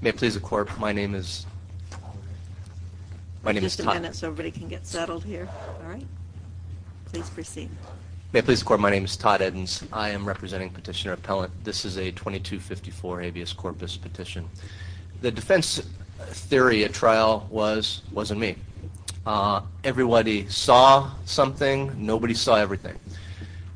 May it please the court, my name is Todd Eddins. I am representing Petitioner Appellant. This is a 2254 habeas corpus petition. The defense theory at trial wasn't me. Everybody saw something, nobody saw everything.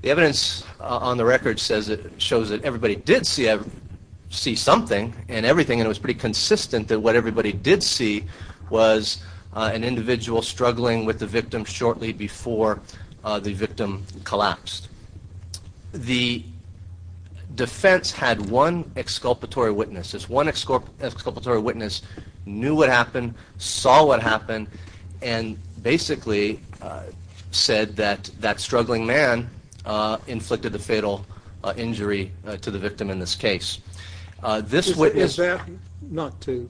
The evidence on the record shows that everybody did see something and everything and it was pretty consistent that what everybody did see was an individual struggling with the victim shortly before the victim collapsed. The defense had one exculpatory witness. This one exculpatory witness knew what happened, saw what happened and basically said that that struggling man inflicted the fatal injury to the victim in this case. Is that, not to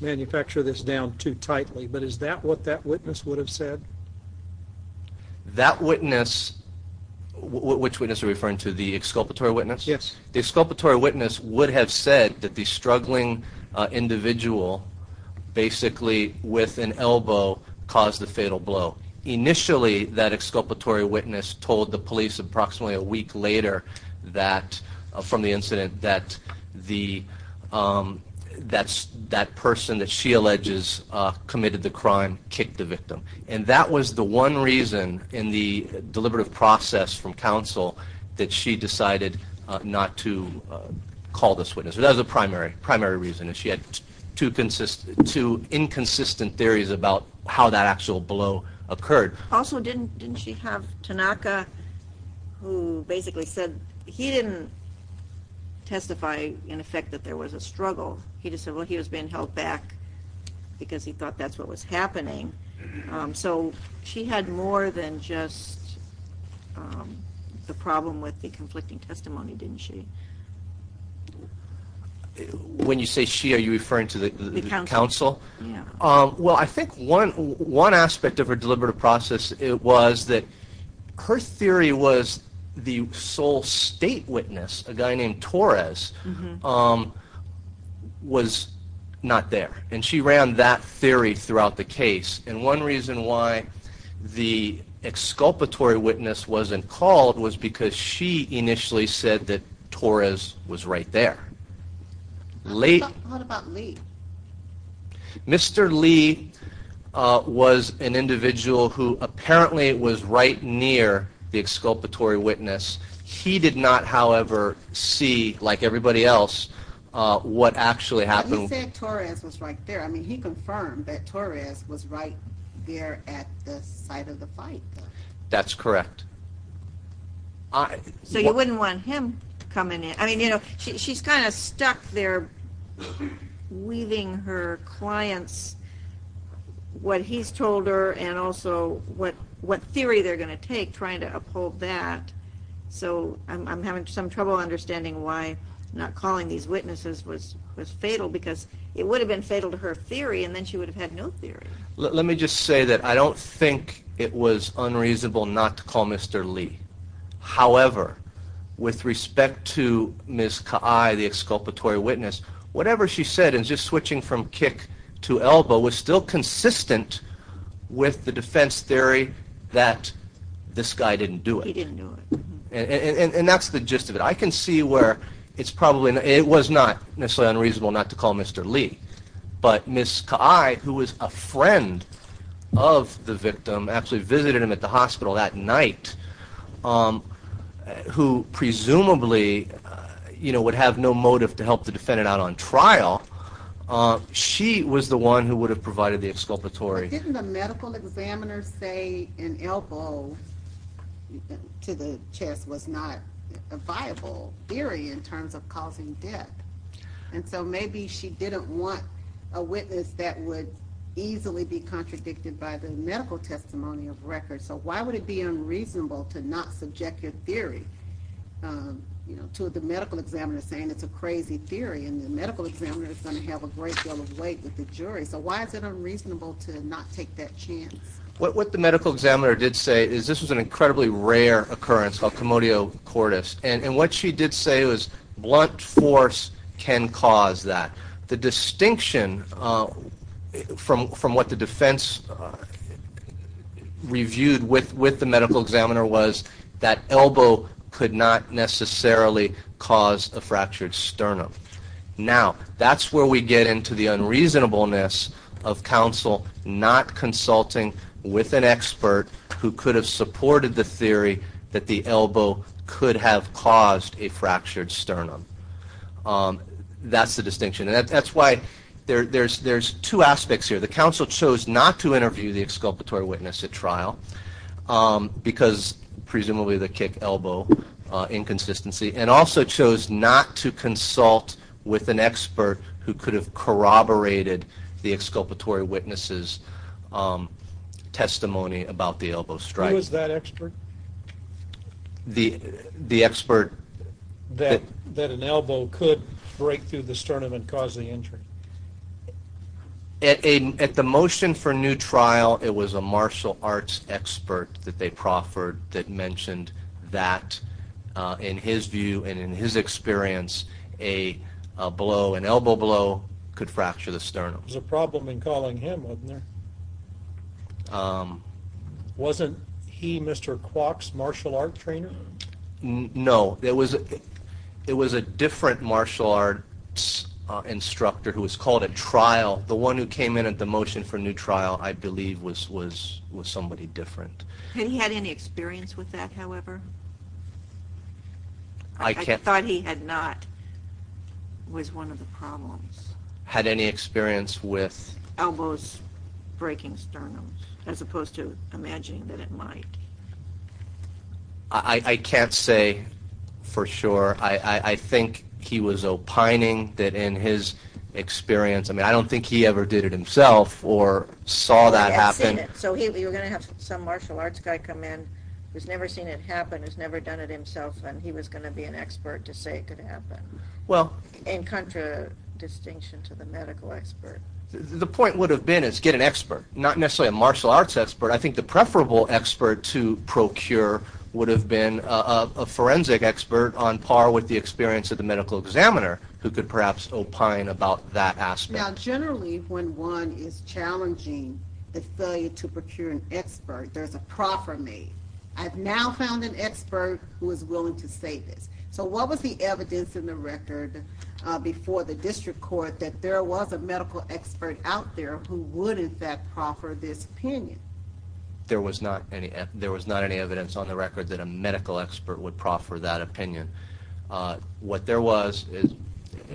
manufacture this down too tightly, but is that what that witness would have said? That witness, which witness are you referring to, the exculpatory witness? Yes. The exculpatory witness would have said that the struggling individual basically with an elbow caused the fatal blow. Initially that exculpatory witness told the police approximately a week later from the incident that the person that she alleges committed the crime kicked the victim. That was the one reason in the deliberative process from counsel that she decided not to call this witness. That was the primary reason. She had two inconsistent theories about how that actual blow occurred. Also, didn't she have Tanaka who basically said he didn't testify in effect that there was a struggle. He just said he was being held back because he thought that's what was happening. So she had more than just the problem with the conflicting testimony, didn't she? When you say she, are you referring to the counsel? Yeah. Well, I think one aspect of her deliberative process was that her theory was the sole state witness, a guy named Torres, was not there. And she ran that theory throughout the case. And one reason why the exculpatory witness wasn't called was because she initially said that Torres was right there. What about Lee? Mr. Lee was an individual who apparently was right near the exculpatory witness. He did not, however, see, like everybody else, what actually happened. He said Torres was right there. I mean, he confirmed that Torres was right there at the site of the fight. That's correct. So you wouldn't want him coming in? I mean, you know, she's kind of stuck there weaving her clients what he's told her and also what theory they're going to take trying to uphold that. So I'm having some trouble understanding why not calling these witnesses was fatal because it would have been fatal to her theory and then she would have had no theory. Let me just say that I don't think it was unreasonable not to call Mr. Lee. However, with respect to Ms. Ka'ai, the exculpatory witness, whatever she said, and just switching from kick to elbow, was still consistent with the defense theory that this guy didn't do it. He didn't do it. And that's the gist of it. I can see where it's probably, it was not necessarily unreasonable not to call Mr. Lee. But Ms. Ka'ai, who was a friend of the victim, actually visited him at the hospital that night, who presumably, you know, would have no motive to help the defendant out on trial. She was the one who would have provided the exculpatory. But didn't the medical examiner say an elbow to the chest was not a viable theory in terms of causing death? And so maybe she didn't want a witness that would easily be contradicted by the medical testimony of record. So why would it be unreasonable to not subject your theory to the medical examiner saying it's a crazy theory and the medical examiner is going to have a great deal of weight with the jury? So why is it unreasonable to not take that chance? What the medical examiner did say is this was an incredibly rare occurrence, a commodio cordis. And what she did say was blunt force can cause that. The distinction from what the defense reviewed with the medical examiner was that elbow could not necessarily cause a fractured sternum. Now, that's where we get into the unreasonableness of counsel not consulting with an expert who could have supported the theory that the elbow could have caused a fractured sternum. That's the distinction. And that's why there's two aspects here. The counsel chose not to interview the exculpatory witness at trial because presumably the kick elbow inconsistency and also chose not to consult with an expert who could have corroborated the exculpatory witness's testimony about the elbow strike. Who was that expert? The expert that... That an elbow could break through the sternum and cause the injury. At the motion for new trial it was a martial arts expert that they proffered that mentioned that in his view and in his experience a blow, an elbow blow could fracture the sternum. There was a problem in calling him, wasn't there? Wasn't he Mr. Kwok's martial arts trainer? No, it was a different martial arts instructor who was called at trial. The one who came in at the motion for new trial I believe was somebody different. Had he had any experience with that, however? I can't... I thought he had not, was one of the problems. Had any experience with... Elbows breaking sternum as opposed to imagining that it might. I can't say for sure. I think he was opining that in his experience, I mean I don't think he ever did it himself or saw that happen. So you're going to have some martial arts guy come in who's never seen it happen, who's never done it himself and he was going to be an expert to say it could happen. Well... In contradistinction to the medical expert. The point would have been is get an expert, not necessarily a martial arts expert. I think the preferable expert to procure would have been a forensic expert on par with the experience of the medical examiner who could perhaps opine about that aspect. Now generally when one is challenging the failure to procure an expert, there's a proffer made. I've now found an expert who is willing to say this. So what was the evidence in the record before the district court that there was a medical expert out there who would in fact proffer this opinion? There was not any evidence on the record that a medical expert would proffer that opinion. What there was,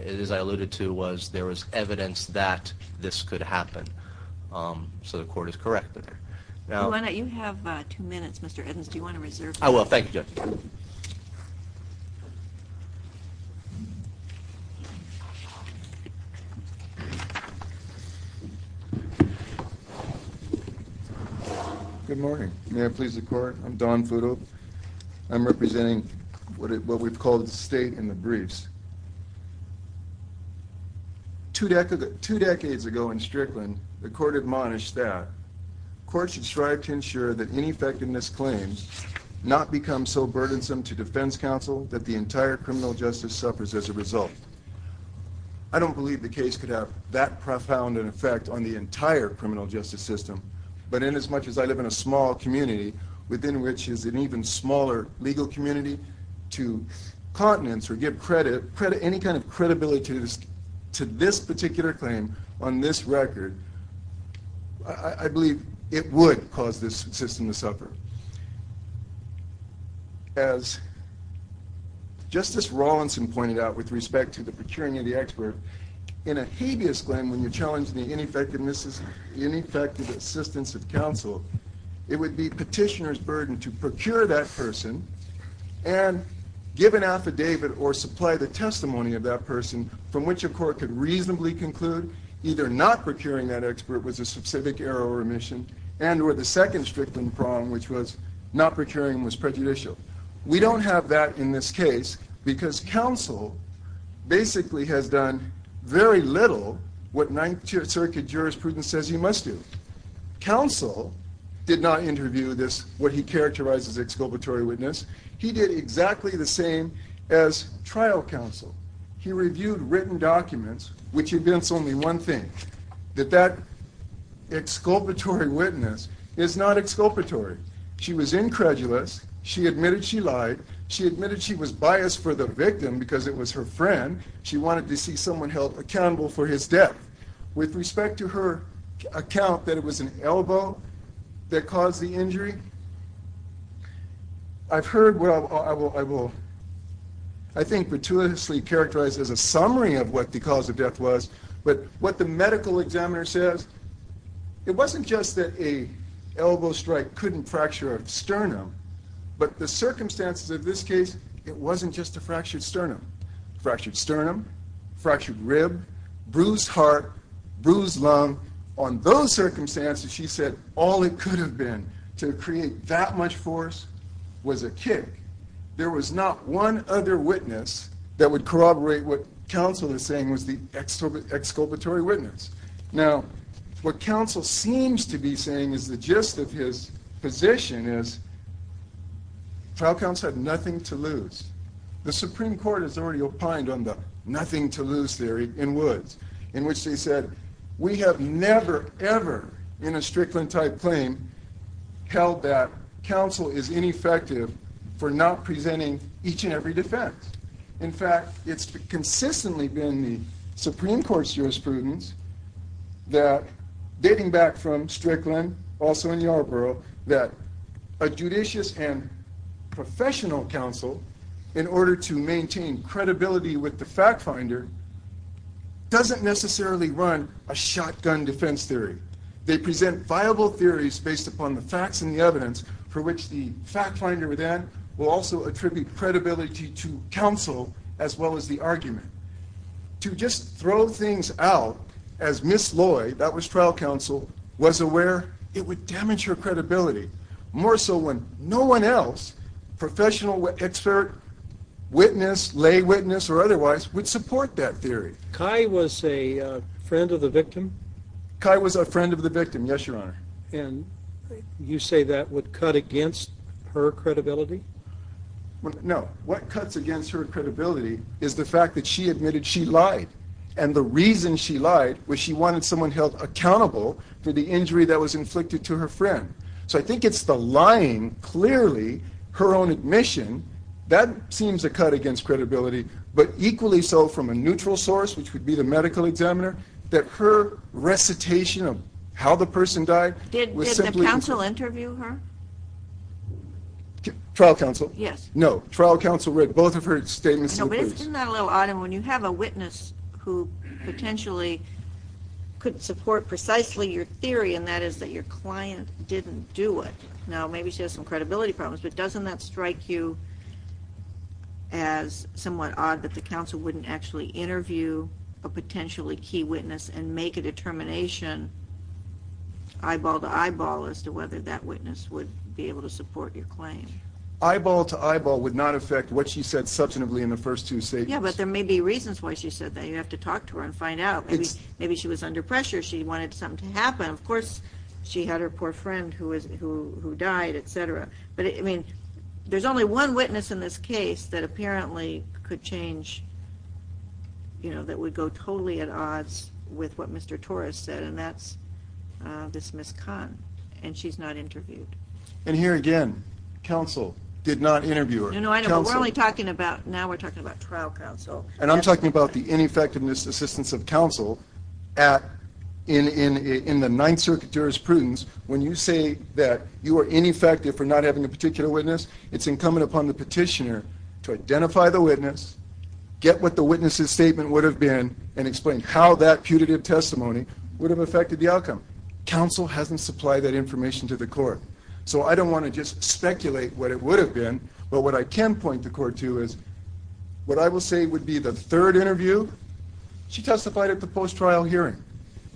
as I alluded to, was there was evidence that this could happen. So the court is correct. You have two minutes Mr. Edmonds. Do you want to reserve? I will. Thank you, Judge. Good morning. May I please the court? I'm Don Futo. I'm representing what we've called the state in the briefs. Two decades ago in Strickland, the court admonished that courts should strive to ensure that any effectiveness claims not become so burdensome to defense counsel that the entire criminal justice suffers as a result. I don't believe the case could have that profound an effect on the entire criminal justice system. But in as much as I live in a small community, within which is an even smaller legal community, to continence or give credit, any kind of credibility to this particular claim on this record, I believe it would cause this system to suffer. As Justice Rawlinson pointed out with respect to the procuring of the expert, in a habeas claim when you challenge the ineffective assistance of counsel, it would be petitioner's burden to procure that person and give an affidavit or supply the testimony of that person from which a court could reasonably conclude either not procuring that expert was a specific error or omission, and or the second Strickland problem which was not procuring was prejudicial. We don't have that in this case because counsel basically has done very little what Ninth Circuit jurisprudence says he must do. Counsel did not interview this, what he characterized as exculpatory witness. He did exactly the same as trial counsel. He reviewed written documents, which admits only one thing, that that exculpatory witness is not exculpatory. She was incredulous. She admitted she lied. She admitted she was biased for the victim because it was her friend. She wanted to see someone held accountable for his death. With respect to her account that it was an elbow that caused the injury, I've heard what I will, I think, gratuitously characterize as a summary of what the cause of death was, but what the medical examiner says, it wasn't just that a elbow strike couldn't fracture a sternum, but the circumstances of this case, it wasn't just a fractured sternum, fractured sternum, fractured rib, bruised heart, bruised lung. On those circumstances, she said all it could have been to create that much force was a kick. There was not one other witness that would corroborate what counsel is saying was the exculpatory witness. Now, what counsel seems to be saying is the gist of his position is trial counsel had nothing to lose. The Supreme Court has already opined on the nothing to lose theory in Woods, in which they said we have never, ever in a Strickland type claim held that counsel is ineffective for not presenting each and every defense. In fact, it's consistently been the Supreme Court's jurisprudence that dating back from Strickland, also in Yarborough, that a judicious and professional counsel, in order to maintain credibility with the fact finder, doesn't necessarily run a shotgun defense theory. They present viable theories based upon the facts and the evidence for which the fact finder then will also attribute credibility to counsel as well as the argument. To just throw things out as Ms. Loy, that was trial counsel, was aware it would damage her credibility, more so when no one else, professional expert, witness, lay witness or otherwise, would support that theory. Kai was a friend of the victim? Kai was a friend of the victim, yes, Your Honor. And you say that would cut against her credibility? No. What cuts against her credibility is the fact that she admitted she lied. And the reason she lied was she wanted someone held accountable for the injury that was inflicted to her friend. So I think it's the lying, clearly, her own admission, that seems to cut against credibility, but equally so from a neutral source, which would be the medical examiner, that her recitation of how the person died was simply... Did the counsel interview her? Trial counsel? Yes. No. Trial counsel read both of her statements. Isn't that a little odd? And when you have a witness who potentially could support precisely your theory, and that is that your client didn't do it, now maybe she has some credibility problems, but doesn't that strike you as somewhat odd that the counsel wouldn't actually interview a potentially key witness and make a determination, eyeball to eyeball, as to whether that witness would be able to support your claim? Eyeball to eyeball would not affect what she said substantively in the first two statements. Yeah, but there may be reasons why she said that. You have to talk to her and find out. Maybe she was under pressure. She wanted something to happen. Of course, she had her poor friend who died, etc. But, I mean, there's only one witness in this case that apparently could change, you know, that would go totally at odds with what Mr. Torres said, and that's this Ms. Kahn. And she's not interviewed. And here again, counsel did not interview her. No, no, we're only talking about, now we're talking about trial counsel. And I'm talking about the ineffectiveness assistance of counsel at, in the Ninth Circuit jurisprudence, when you say that you are ineffective for not having a particular witness, it's incumbent upon the petitioner to identify the witness, get what the witness's statement would have been, and explain how that putative testimony would have affected the outcome. Counsel hasn't supplied that information to the court. So I don't want to just speculate what it would have been, but what I can point the court to is, what I will say would be the third interview, she testified at the post-trial hearing.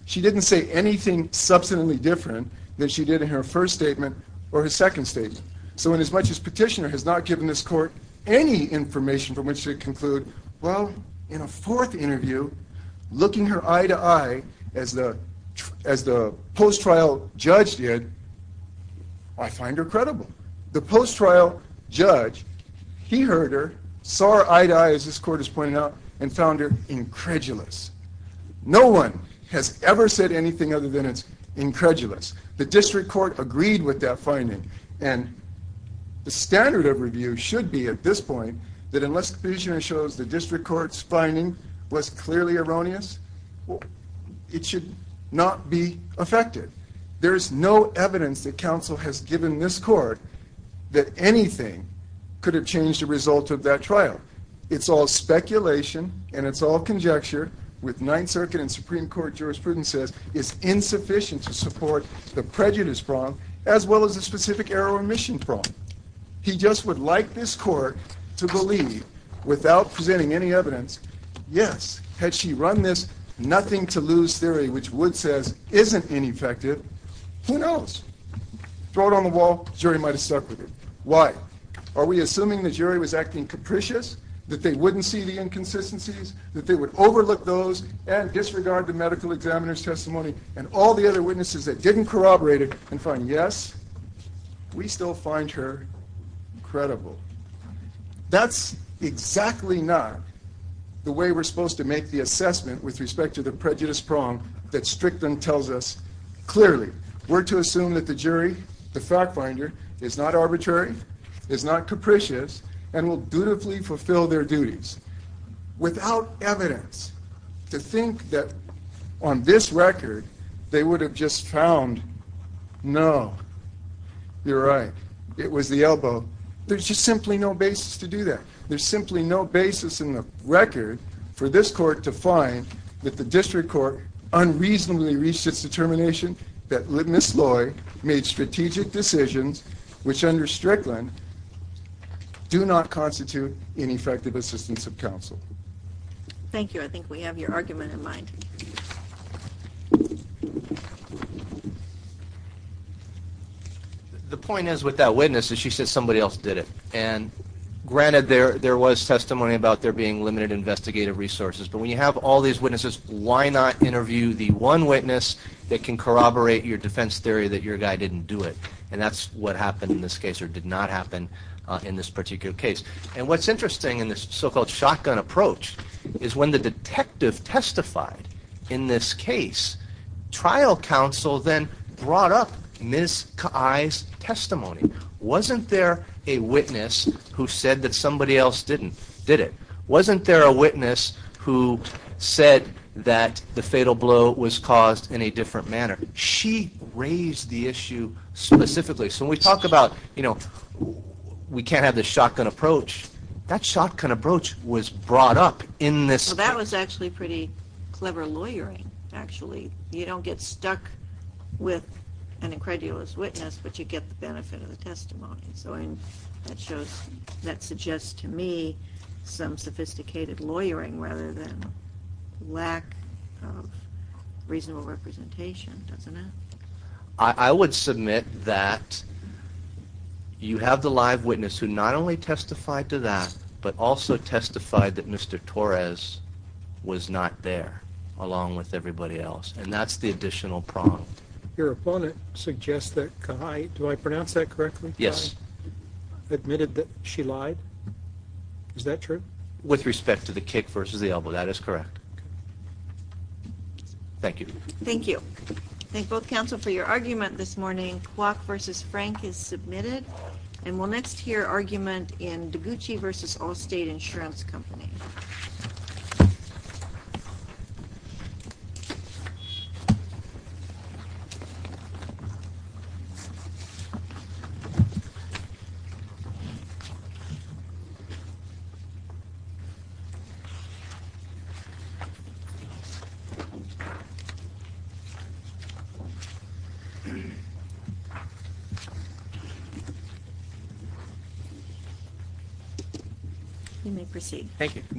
She didn't say anything substantively different than she did in her first statement or her second statement. So inasmuch as petitioner has not given this court any information from which to conclude, well, in a fourth interview, looking her eye-to-eye as the post-trial judge did, I find her credible. The post-trial judge, he heard her, saw her eye-to-eye, as this court has pointed out, and found her incredulous. No one has ever said anything other than it's incredulous. The district court agreed with that finding, and the standard of review should be, at this point, that unless the petitioner shows the district court's finding was clearly erroneous, it should not be affected. There is no evidence that counsel has given this court that anything could have changed the result of that trial. It's all speculation, and it's all conjecture, with Ninth Circuit and Supreme Court jurisprudence says it's insufficient to support the prejudice prong, as well as the specific error or omission prong. He just would like this court to believe, without presenting any evidence, yes, had she run this nothing-to-lose theory, which Wood says isn't ineffective, who knows? Throw it on the wall, jury might have stuck with it. Why? Are we assuming the jury was acting capricious, that they wouldn't see the inconsistencies, that they would overlook those and disregard the medical examiner's testimony and all the other witnesses that didn't corroborate it and find, yes, we still find her. Incredible. That's exactly not the way we're supposed to make the assessment with respect to the prejudice prong that Strickland tells us clearly. We're to assume that the jury, the fact finder, is not arbitrary, is not capricious, and will dutifully fulfill their duties. Without evidence, to think that on this record, they would have just found, no, you're right, it was the elbow, there's just simply no basis to do that. There's simply no basis in the record for this court to find that the district court unreasonably reached its determination that Ms. Loy made strategic decisions which under Strickland do not constitute an effective assistance of counsel. Thank you. I think we have your argument in mind. The point is with that witness is she said somebody else did it. And granted there was testimony about there being limited investigative resources, but when you have all these witnesses, why not interview the one witness that can corroborate your defense theory that your guy didn't do it. And that's what happened in this case, or did not happen in this particular case. And what's interesting in this so-called shotgun approach is when the detective testified in this case, trial counsel then brought up Ms. Kai's testimony. Wasn't there a witness who said that somebody else didn't, did it? Wasn't there a witness who said that the fatal blow was caused in a different manner? She raised the issue specifically. So when we talk about, you know, we can't have this shotgun approach, that shotgun approach was brought up in this- That suggests to me some sophisticated lawyering rather than lack of reasonable representation, doesn't it? I would submit that you have the live witness who not only testified to that, but also testified that Mr. Torres was not there along with everybody else. And that's the additional prong. Your opponent suggests that Kai, do I pronounce that correctly? Yes. Admitted that she lied? Is that true? With respect to the kick versus the elbow, that is correct. Thank you. Thank you. Thank both counsel for your argument this morning. Kwok versus Frank is submitted. And we'll next hear argument in DiGucci versus Allstate Insurance Company. You may proceed. Thank you.